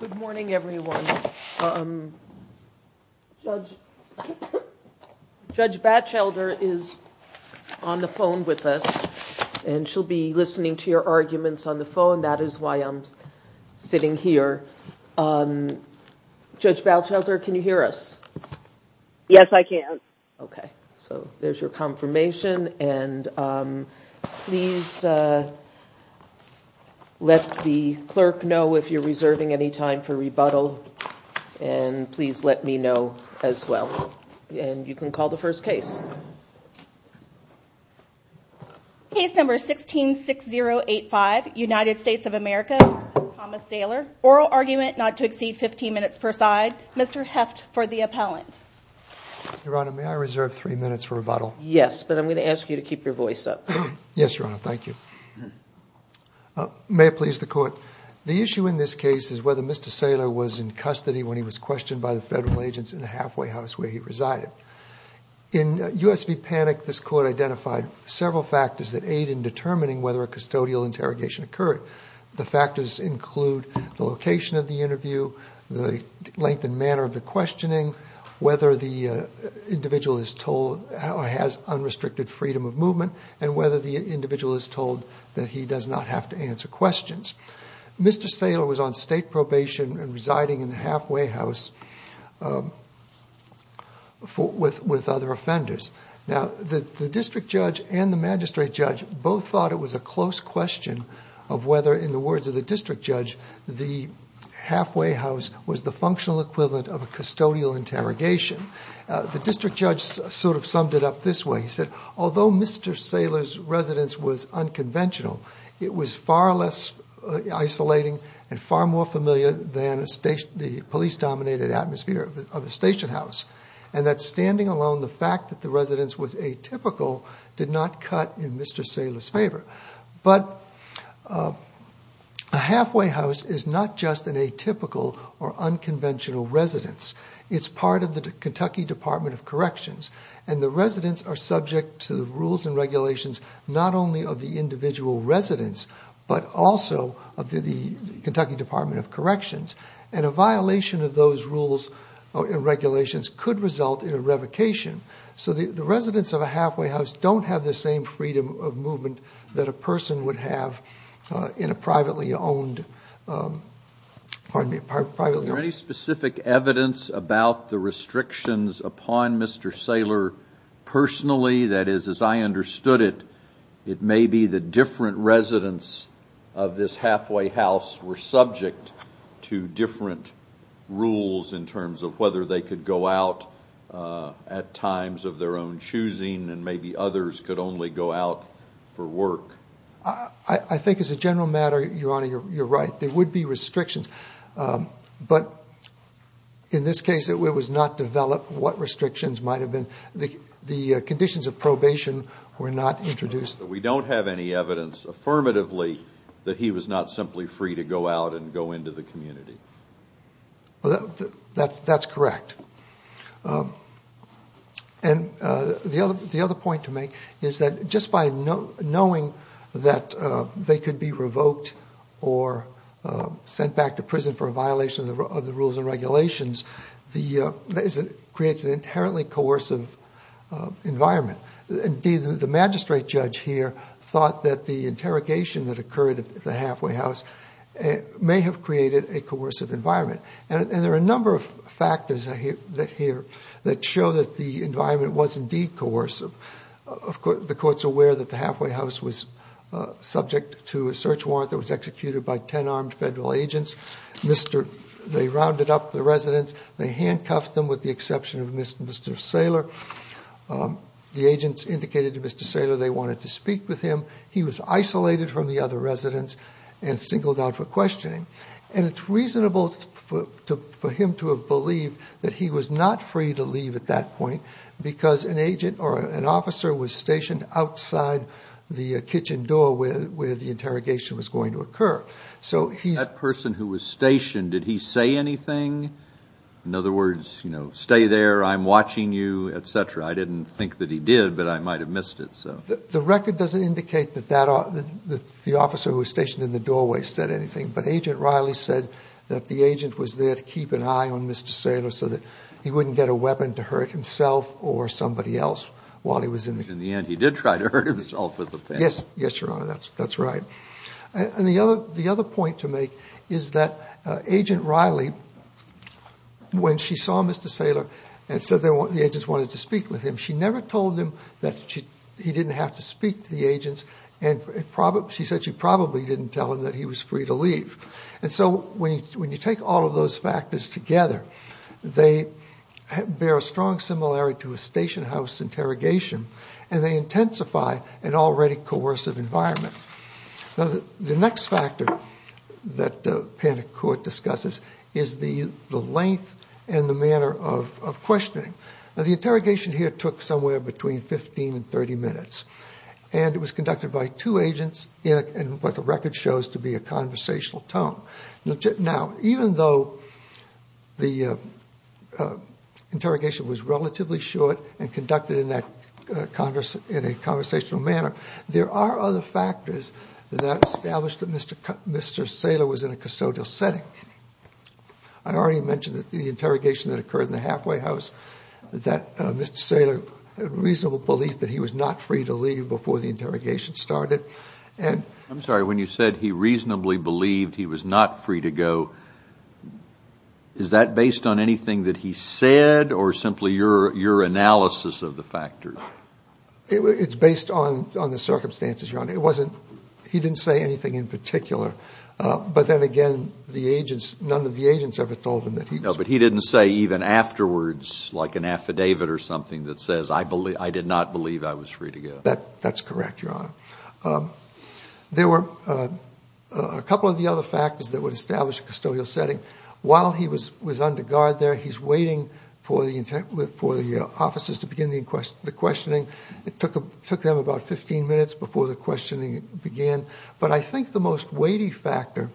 Good morning everyone. Judge Batchelder is on the phone with us and she'll be listening to your arguments on the phone. That is why I'm sitting here. Judge Batchelder, can you hear us? Yes, I can. Okay, so there's your confirmation and please let the clerk know if you're reserving any time for rebuttal and please let me know as well. And you can call the first case. Case number 166085, United States of America, Thomas Saylor. Oral argument not to exceed 15 minutes per side. Mr. Heft for the appellant. Your Honor, may I reserve three minutes for rebuttal? Yes, but I'm going to ask you to keep your voice up. Yes, Your Honor. Thank you. May it please the court. The issue in this case is whether Mr. Saylor was in custody when he was questioned by the federal agents in the halfway house where he resided. In US v. Panic, this court identified several factors that aid in determining whether a custodial interrogation occurred. The factors include the location of the interview, the length and manner of the questioning, whether the individual is told or has unrestricted freedom of movement, and whether the individual is told that he does not have to answer questions. Mr. Saylor was on state probation and residing in the halfway house with other offenders. Now, the district judge and the magistrate judge both thought it was a close question of whether, in the words of the district judge, the halfway house was the functional equivalent of a custodial interrogation. The district judge sort of summed it up this way. He said, although Mr. Saylor's residence was unconventional, it was far less isolating and far more familiar than the police-dominated atmosphere of a station house. And that standing alone, the fact that the residence was atypical did not cut in Mr. Saylor's favor. But a halfway house is not just an atypical or unconventional residence. It's part of the Kentucky Department of Corrections, and the residents are subject to the rules and regulations not only of the individual residence, but also of the Kentucky Department of Corrections. And a violation of those rules and regulations could result in a revocation. So the residents of a halfway house don't have the same freedom of movement that a person would have in a privately owned, pardon me, privately owned... rules in terms of whether they could go out at times of their own choosing, and maybe others could only go out for work. I think as a general matter, Your Honor, you're right. There would be restrictions. But in this case, it was not developed what restrictions might have been. The conditions of probation were not introduced. We don't have any evidence affirmatively that he was not simply free to go out and go into the community. That's correct. And the other point to make is that just by knowing that they could be revoked or sent back to prison for a violation of the rules and regulations, creates an inherently coercive environment. Indeed, the magistrate judge here thought that the interrogation that occurred at the halfway house may have created a coercive environment. And there are a number of factors here that show that the environment was indeed coercive. The court's aware that the halfway house was subject to a search warrant that was executed by 10 armed federal agents. They rounded up the residents. They handcuffed them with the exception of Mr. Saylor. The agents indicated to Mr. Saylor they wanted to speak with him. He was isolated from the other residents and singled out for questioning. And it's reasonable for him to have believed that he was not free to leave at that point because an agent or an officer was stationed outside the kitchen door where the interrogation was going to occur. That person who was stationed, did he say anything? In other words, you know, stay there, I'm watching you, et cetera. I didn't think that he did, but I might have missed it. The record doesn't indicate that the officer who was stationed in the doorway said anything. But Agent Riley said that the agent was there to keep an eye on Mr. Saylor so that he wouldn't get a weapon to hurt himself or somebody else while he was in the kitchen. In the end, he did try to hurt himself with a pen. Yes, Your Honor, that's right. And the other point to make is that Agent Riley, when she saw Mr. Saylor and said the agents wanted to speak with him, she never told him that he didn't have to speak to the agents and she said she probably didn't tell him that he was free to leave. And so when you take all of those factors together, they bear a strong similarity to a stationhouse interrogation and they intensify an already coercive environment. The next factor that Panic Court discusses is the length and the manner of questioning. The interrogation here took somewhere between 15 and 30 minutes. And it was conducted by two agents in what the record shows to be a conversational tone. Now, even though the interrogation was relatively short and conducted in a conversational manner, there are other factors that establish that Mr. Saylor was in a custodial setting. I already mentioned that the interrogation that occurred in the halfway house, that Mr. Saylor had reasonable belief that he was not free to leave before the interrogation started. I'm sorry, when you said he reasonably believed he was not free to go, is that based on anything that he said or simply your analysis of the factors? It's based on the circumstances, Your Honor. He didn't say anything in particular. But then again, none of the agents ever told him that he was free to go. No, but he didn't say even afterwards like an affidavit or something that says, I did not believe I was free to go. That's correct, Your Honor. There were a couple of the other factors that would establish a custodial setting. While he was under guard there, he's waiting for the officers to begin the questioning. It took them about 15 minutes before the questioning began. But I think the most weighty factor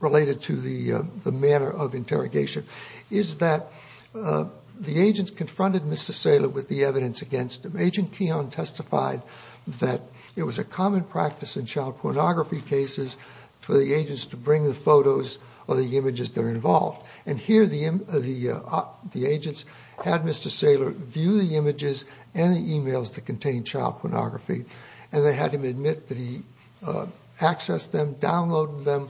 related to the manner of interrogation is that the agents confronted Mr. Saylor with the evidence against him. Agent Keon testified that it was a common practice in child pornography cases for the agents to bring the photos or the images that are involved. And here the agents had Mr. Saylor view the images and the e-mails that contained child pornography, and they had him admit that he accessed them, downloaded them,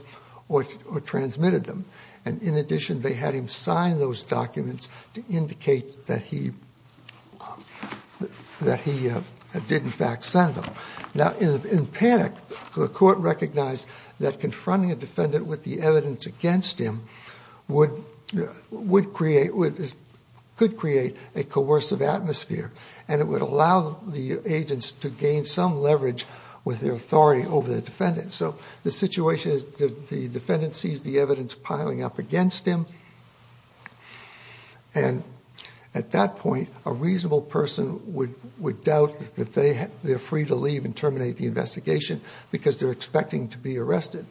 or transmitted them. And in addition, they had him sign those documents to indicate that he did in fact send them. Now, in panic, the court recognized that confronting a defendant with the evidence against him could create a coercive atmosphere, and it would allow the agents to gain some leverage with their authority over the defendant. So the situation is the defendant sees the evidence piling up against him, and at that point a reasonable person would doubt that they're free to leave and terminate the investigation because they're expecting to be arrested.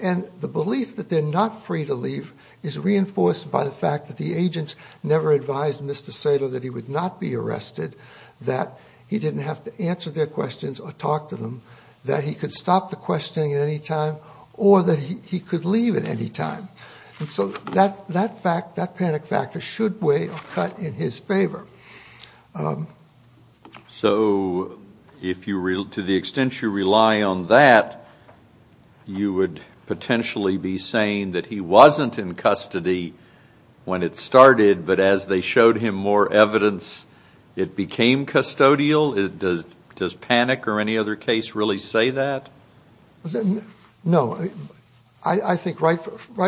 And the belief that they're not free to leave is reinforced by the fact that the agents never advised Mr. Saylor that he would not be arrested, that he didn't have to answer their questions or talk to them, that he could stop the questioning at any time, or that he could leave at any time. And so that panic factor should weigh a cut in his favor. So to the extent you rely on that, you would potentially be saying that he wasn't in custody when it started, but as they showed him more evidence, it became custodial? Does panic or any other case really say that? No. I think right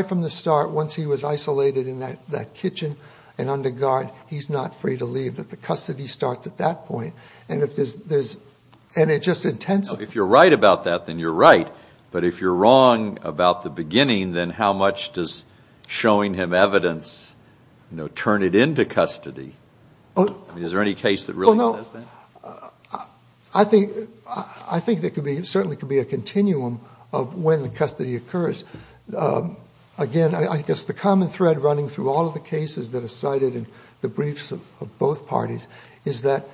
from the start, once he was isolated in that kitchen and under guard, he's not free to leave. The custody starts at that point. And it just intends to. If you're right about that, then you're right. But if you're wrong about the beginning, then how much does showing him evidence turn it into custody? Is there any case that really says that? I think there certainly could be a continuum of when the custody occurs. Again, I guess the common thread running through all of the cases that are cited in the briefs of both parties is that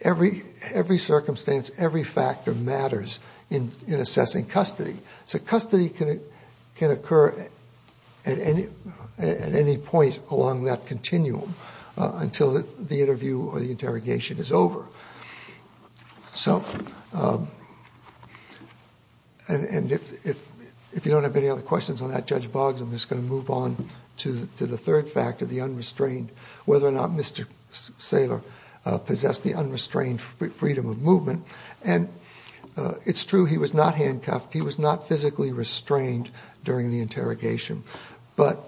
every circumstance, every factor matters in assessing custody. So custody can occur at any point along that continuum until the interview or the interrogation is over. And if you don't have any other questions on that, Judge Boggs, I'm just going to move on to the third factor, the unrestrained, whether or not Mr. Saylor possessed the unrestrained freedom of movement. And it's true he was not handcuffed. He was not physically restrained during the interrogation. But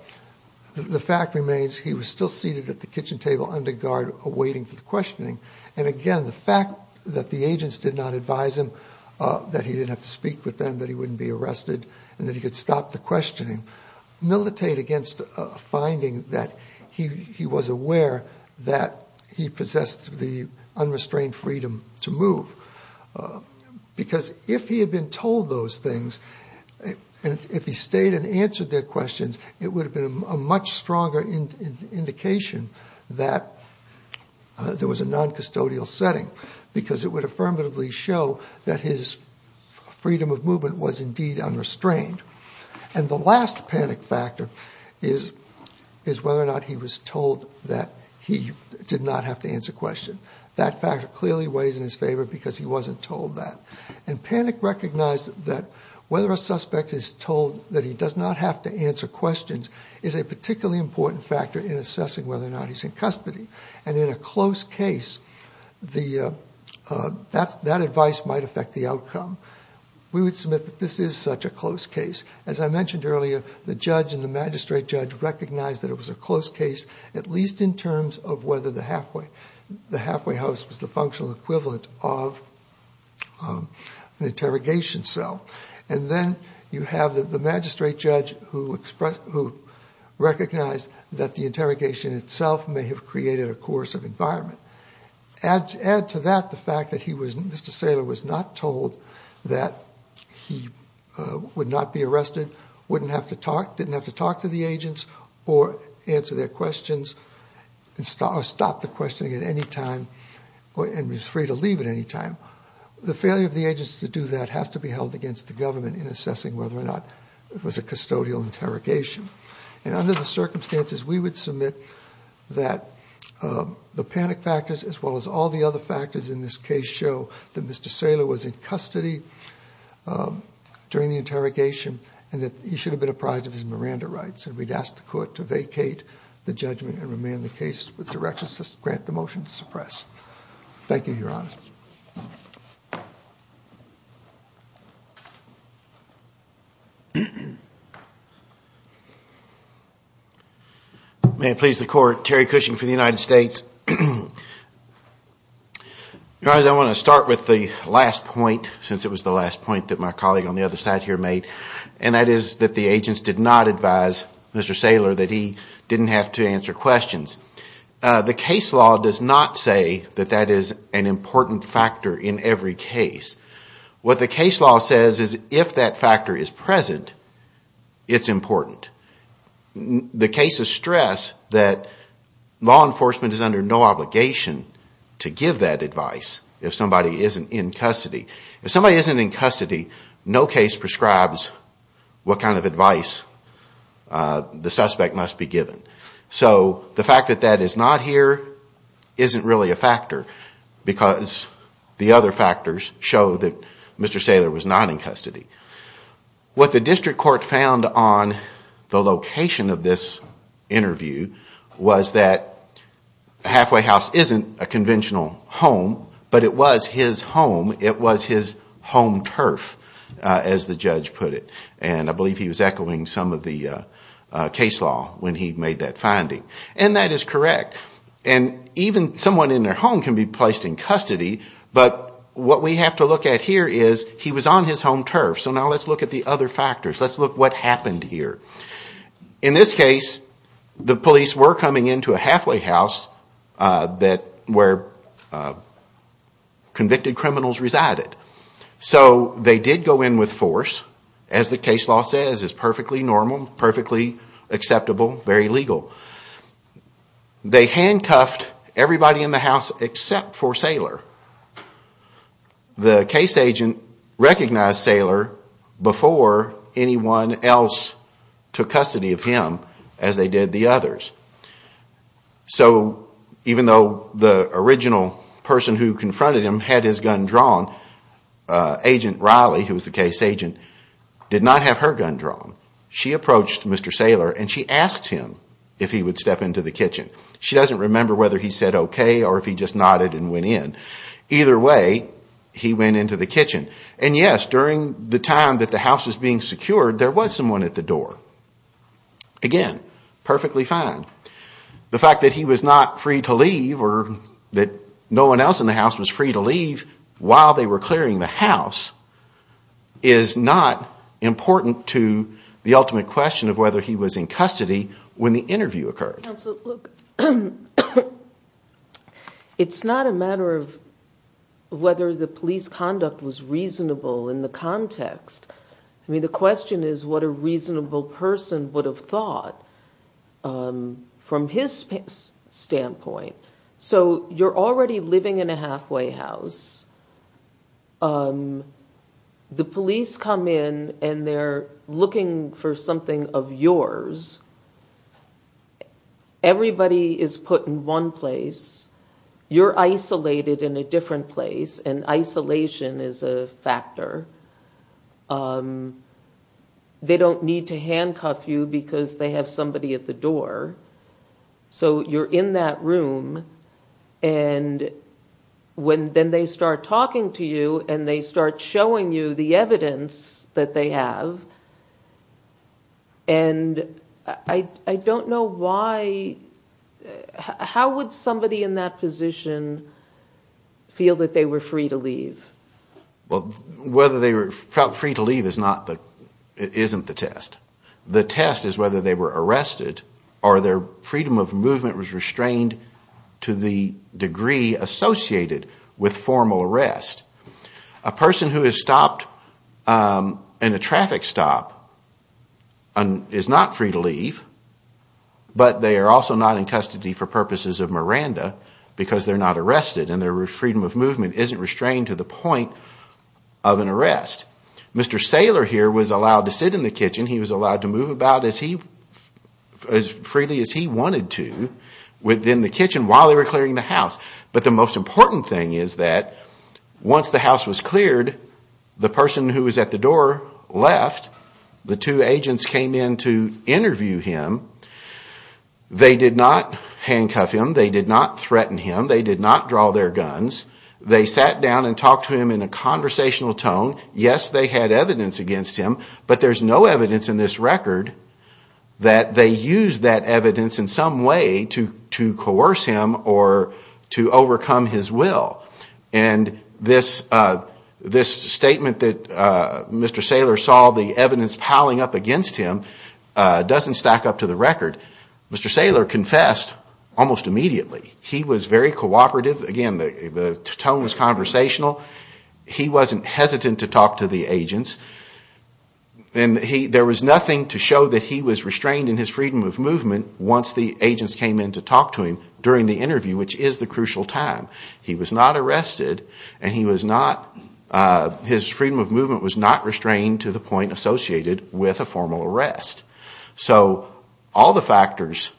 the fact remains he was still seated at the kitchen table under guard waiting for the questioning. And, again, the fact that the agents did not advise him that he didn't have to speak with them, that he wouldn't be arrested and that he could stop the questioning, militate against a finding that he was aware that he possessed the unrestrained freedom to move. Because if he had been told those things, if he stayed and answered their questions, it would have been a much stronger indication that there was a noncustodial setting, because it would affirmatively show that his freedom of movement was indeed unrestrained. And the last panic factor is whether or not he was told that he did not have to answer questions. That factor clearly weighs in his favor because he wasn't told that. And panic recognized that whether a suspect is told that he does not have to answer questions is a particularly important factor in assessing whether or not he's in custody. And in a close case, that advice might affect the outcome. We would submit that this is such a close case. As I mentioned earlier, the judge and the magistrate judge recognized that it was a close case, at least in terms of whether the halfway house was the functional equivalent of an interrogation cell. And then you have the magistrate judge who recognized that the interrogation itself may have created a coercive environment. Add to that the fact that Mr. Saylor was not told that he would not be arrested, wouldn't have to talk, didn't have to talk to the agents or answer their questions or stop the questioning at any time and was free to leave at any time. The failure of the agents to do that has to be held against the government in assessing whether or not it was a custodial interrogation. And under the circumstances, we would submit that the panic factors, as well as all the other factors in this case, show that Mr. Saylor was in custody during the interrogation and that he should have been apprised of his Miranda rights. And we'd ask the court to vacate the judgment and remain in the case with directions to grant the motion to suppress. Thank you, Your Honor. May it please the court, Terry Cushing for the United States. Your Honor, I want to start with the last point, since it was the last point that my colleague on the other side here made, and that is that the agents did not advise Mr. Saylor that he didn't have to answer questions. The case law does not say that that is an important factor in every case. What the case law says is if that factor is present, it's important. The cases stress that law enforcement is under no obligation to give that advice if somebody isn't in custody. If somebody isn't in custody, no case prescribes what kind of advice the suspect must be given. So the fact that that is not here isn't really a factor, because the other factors show that Mr. Saylor was not in custody. What the district court found on the location of this interview was that Halfway House isn't a conventional home, but it was his home, it was his home turf, as the judge put it. And I believe he was echoing some of the case law when he made that finding. And that is correct. And even someone in their home can be placed in custody, but what we have to look at here is he was on his home turf. So now let's look at the other factors. Let's look at what happened here. In this case, the police were coming into a Halfway House where convicted criminals resided. So they did go in with force. As the case law says, it's perfectly normal, perfectly acceptable, very legal. They handcuffed everybody in the house except for Saylor. The case agent recognized Saylor before anyone else took custody of him as they did the others. So even though the original person who confronted him had his gun drawn, agent Riley, who was the case agent, did not have her gun drawn. She approached Mr. Saylor and she asked him if he would step into the kitchen. She doesn't remember whether he said okay or if he just nodded and went in. Either way, he went into the kitchen. And yes, during the time that the house was being secured, there was someone at the door. Again, perfectly fine. The fact that he was not free to leave or that no one else in the house was free to leave while they were clearing the house, is not important to the ultimate question of whether he was in custody when the interview occurred. Look, it's not a matter of whether the police conduct was reasonable in the context. I mean, the question is what a reasonable person would have thought from his standpoint. So you're already living in a halfway house. The police come in and they're looking for something of yours. Everybody is put in one place. You're isolated in a different place and isolation is a factor. They don't need to handcuff you because they have somebody at the door. So you're in that room and then they start talking to you and they start showing you the evidence that they have. And I don't know why, how would somebody in that position feel that they were free to leave? Well, whether they felt free to leave isn't the test. The test is whether they were arrested or their freedom of movement was restrained to the degree associated with formal arrest. A person who is stopped in a traffic stop is not free to leave, but they are also not in custody for purposes of Miranda because they're not arrested. And their freedom of movement isn't restrained to the point of an arrest. Mr. Saylor here was allowed to sit in the kitchen. He was allowed to move about as freely as he wanted to within the kitchen while they were clearing the house. But the most important thing is that once the house was cleared, the person who was at the door left. The two agents came in to interview him. They did not handcuff him. They did not threaten him. They did not draw their guns. They sat down and talked to him in a conversational tone. Yes, they had evidence against him, but there's no evidence in this record that they used that evidence in some way to coerce him or to overcome his will. And this statement that Mr. Saylor saw the evidence piling up against him doesn't stack up to the record. Mr. Saylor confessed almost immediately. He was very cooperative. Again, the tone was conversational. He wasn't hesitant to talk to the agents. And there was nothing to show that he was restrained in his freedom of movement once the agents came in to talk to him during the interview, which is the crucial time. He was not arrested and his freedom of movement was not restrained to the point associated with a formal arrest. So all the factors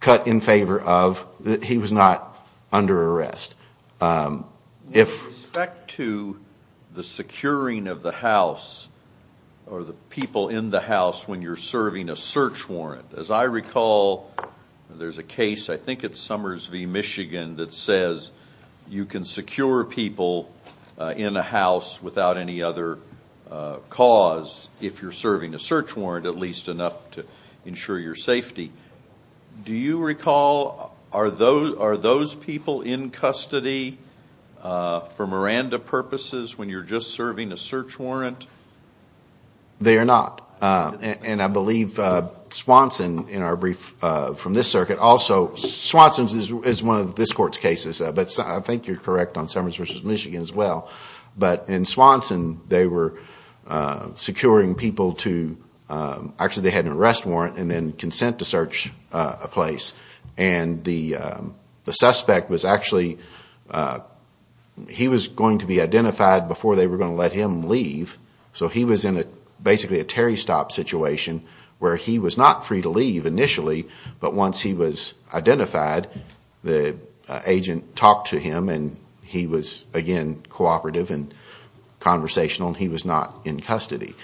cut in favor of that he was not under arrest. With respect to the securing of the house or the people in the house when you're serving a search warrant, as I recall, there's a case, I think it's Summers v. Michigan, that says you can secure people in a house without any other cause if you're serving a search warrant. At least enough to ensure your safety. Do you recall, are those people in custody for Miranda purposes when you're just serving a search warrant? They are not. And I believe Swanson in our brief from this circuit, also, Swanson is one of this court's cases. But I think you're correct on Summers v. Michigan as well. But in Swanson, they were securing people to, actually they had an arrest warrant and then consent to search a place. And the suspect was actually, he was going to be identified before they were going to let him leave. So he was in basically a Terry stop situation where he was not free to leave initially, but once he was identified, the agent talked to him and he was, again, cooperating. He was cooperative and conversational and he was not in custody.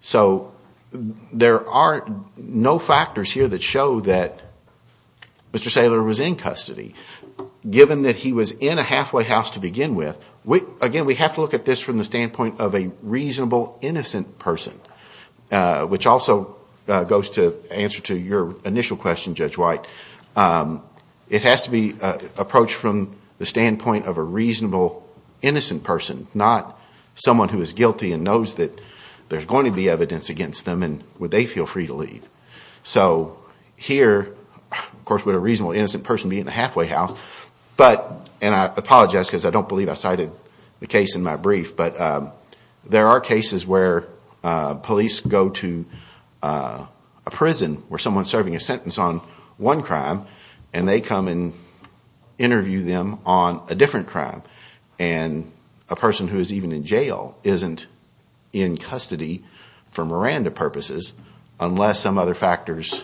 So there are no factors here that show that Mr. Saylor was in custody. Given that he was in a halfway house to begin with, again, we have to look at this from the standpoint of a reasonable, innocent person. Which also goes to answer to your initial question, Judge White. It has to be approached from the standpoint of a reasonable, innocent person. Not someone who is guilty and knows that there's going to be evidence against them and would they feel free to leave. So here, of course, would a reasonable, innocent person be in a halfway house. And I apologize because I don't believe I cited the case in my brief. But there are cases where police go to a prison where someone is serving a sentence on one crime and they come and interview them on a different crime. And a person who is even in jail isn't in custody for Miranda purposes unless some other factors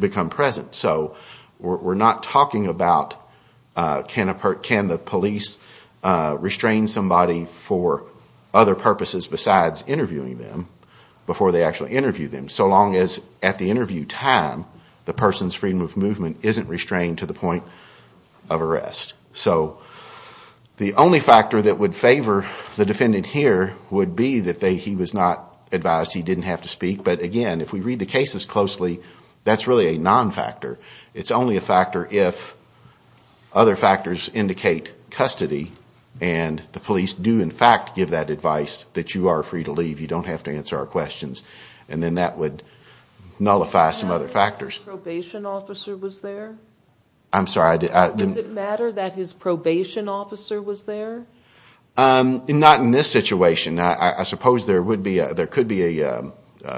become present. So we're not talking about can the police restrain somebody for other purposes besides interviewing them before they actually interview them. So long as at the interview time, the person's freedom of movement isn't restrained to the point of arrest. So the only factor that would favor the defendant here would be that he was not advised, he didn't have to speak. But again, if we read the cases closely, that's really a non-factor. It's only a factor if other factors indicate custody and the police do in fact give that advice that you are free to leave. You don't have to answer our questions. And then that would nullify some other factors. Does it matter that his probation officer was there? Not in this situation. I suppose there could be a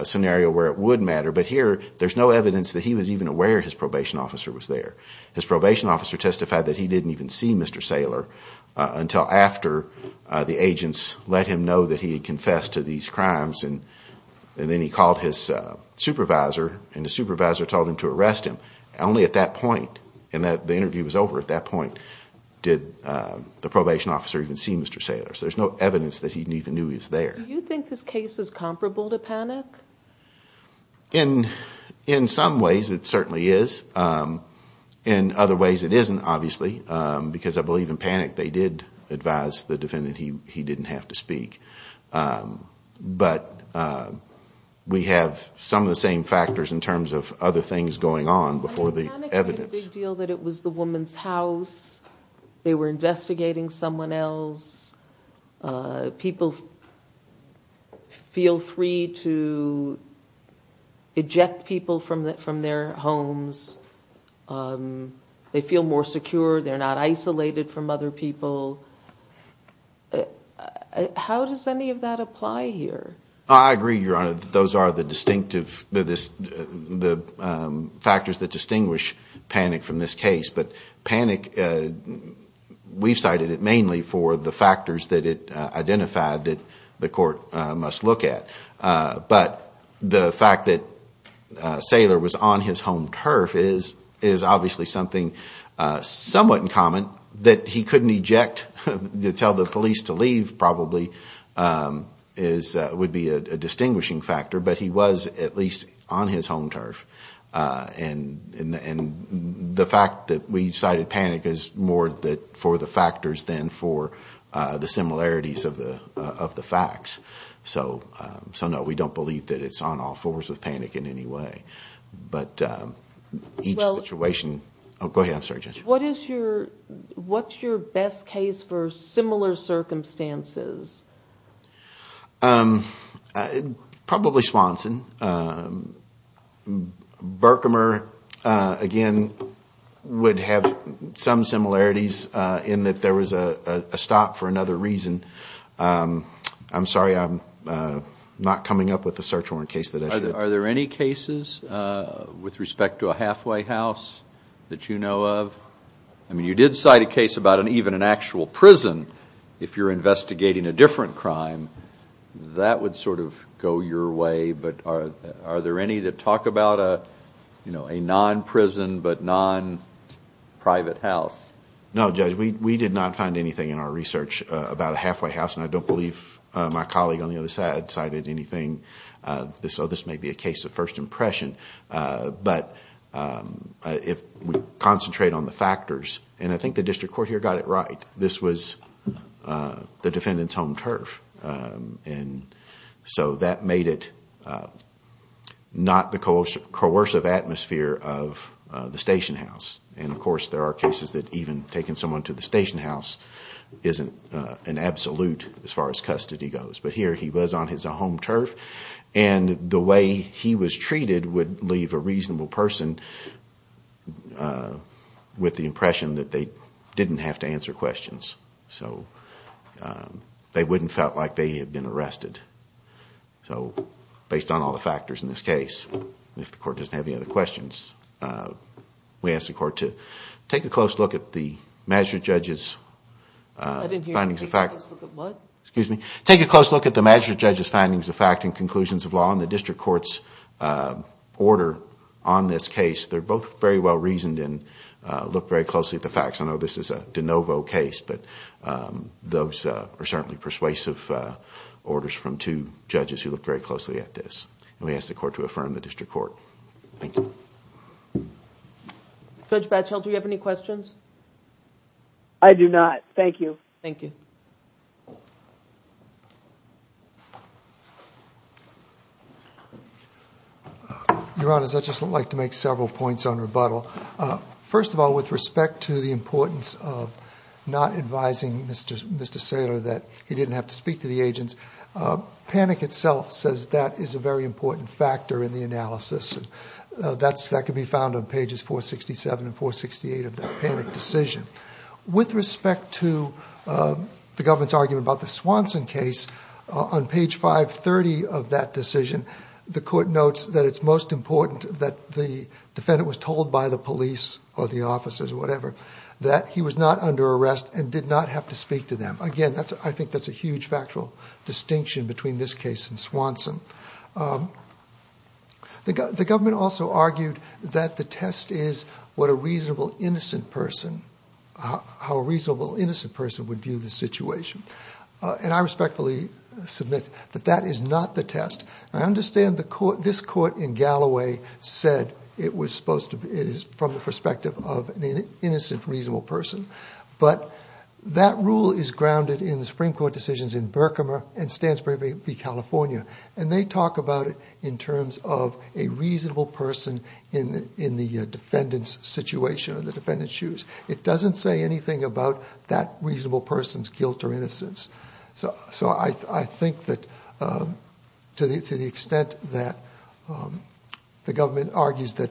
scenario where it would matter. But here, there's no evidence that he was even aware his probation officer was there. His probation officer testified that he didn't even see Mr. Saylor until after the agents let him know that he had confessed to these crimes. And then he called his supervisor and the supervisor told him to arrest him. Only at that point, and the interview was over at that point, did the probation officer even see Mr. Saylor. So there's no evidence that he even knew he was there. Do you think this case is comparable to panic? In some ways it certainly is. In other ways it isn't, obviously. Because I believe in panic they did advise the defendant he didn't have to speak. But we have some of the same factors in terms of other things going on before the evidence. But in panic it was a big deal that it was the woman's house. They were investigating someone else. People feel free to eject people from their homes. They feel more secure. They're not isolated from other people. How does any of that apply here? I agree, Your Honor, that those are the factors that distinguish panic from this case. But panic, we've cited it mainly for the factors that it identified that the court must look at. But the fact that Saylor was on his home turf is obviously something somewhat in common that he couldn't eject. To tell the police to leave probably would be a distinguishing factor. But he was at least on his home turf. The fact that we cited panic is more for the factors than for the similarities of the facts. So no, we don't believe that it's on all fours with panic in any way. What's your best case for similar circumstances? Probably Swanson. Berkamer, again, would have some similarities in that there was a stop for another reason. I'm sorry I'm not coming up with a search warrant case that I should. Are there any cases with respect to a halfway house that you know of? I mean, you did cite a case about even an actual prison if you're investigating a different crime. That would sort of go your way, but are there any that talk about a non-prison but non-private house? No, Judge, we did not find anything in our research about a halfway house, and I don't believe my colleague on the other side cited anything. So this may be a case of first impression. There were a lot of factors, and I think the district court here got it right. This was the defendant's home turf, and so that made it not the coercive atmosphere of the station house. And, of course, there are cases that even taking someone to the station house isn't an absolute as far as custody goes. But here he was on his home turf, and the way he was treated would leave a reasonable person with the impression that they didn't have to answer questions. They wouldn't have felt like they had been arrested, based on all the factors in this case. If the court doesn't have any other questions, we ask the court to take a close look at the magistrate judge's findings of fact. Take a close look at the magistrate judge's findings of fact and conclusions of law and the district court's order on this case. They're both very well reasoned and look very closely at the facts. I know this is a de novo case, but those are certainly persuasive orders from two judges who looked very closely at this. And we ask the court to affirm the district court. Thank you. Judge Batchel, do you have any questions? I do not. Thank you. Your Honor, I'd just like to make several points on rebuttal. First of all, with respect to the importance of not advising Mr. Saylor that he didn't have to speak to the agents, panic itself says that is a very important factor in the analysis. That can be found on pages 467 and 468 of that panic decision. With respect to the government's argument about the Swanson case, on page 530 of that decision, the court notes that it's most important that the defendant was told by the police or the officers or whatever that he was not under arrest and did not have to speak to them. Again, I think that's a huge factual distinction between this case and Swanson. The government also argued that the test is what a reasonable innocent person, how a reasonable innocent person would view the situation. And I respectfully submit that that is not the test. I understand this court in Galloway said it was supposed to be from the perspective of an innocent reasonable person. But that rule is grounded in the Supreme Court decisions in Burkhammer and Stansbury v. California. And they talk about it in terms of a reasonable person in the defendant's situation or the defendant's shoes. It doesn't say anything about that reasonable person's guilt or innocence. So I think that to the extent that the government argues that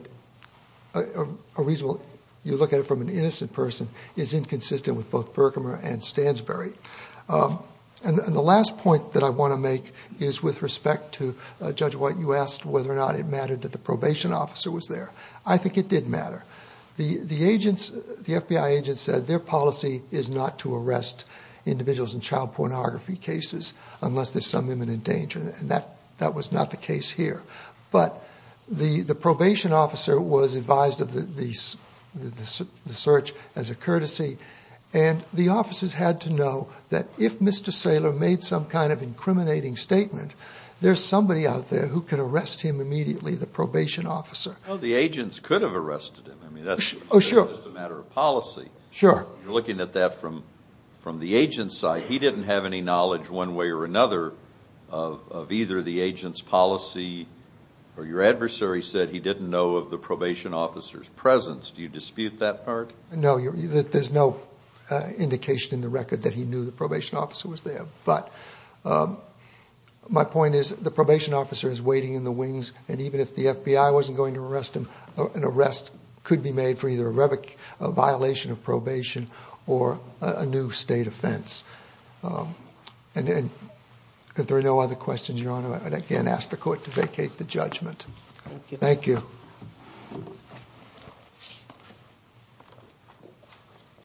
a reasonable, you look at it from an innocent person, is inconsistent with both Burkhammer and Stansbury. And the last point that I want to make is with respect to Judge White. You asked whether or not it mattered that the probation officer was there. I think it did matter. The FBI agents said their policy is not to arrest individuals in child pornography cases unless there's some imminent danger. And that was not the case here. But the probation officer was advised of the search as a courtesy. And the officers had to know that if Mr. Saylor made some kind of incriminating statement, there's somebody out there who could arrest him immediately, the probation officer. Well, the agents could have arrested him. I mean, that's just a matter of policy. You're looking at that from the agent's side. Your adversary said he didn't know of the probation officer's presence. Do you dispute that part? No, there's no indication in the record that he knew the probation officer was there. But my point is the probation officer is waiting in the wings, and even if the FBI wasn't going to arrest him, an arrest could be made for either a violation of probation or a new state offense. And if there are no other questions, Your Honor, I would again ask the Court to vacate the judgment. Thank you.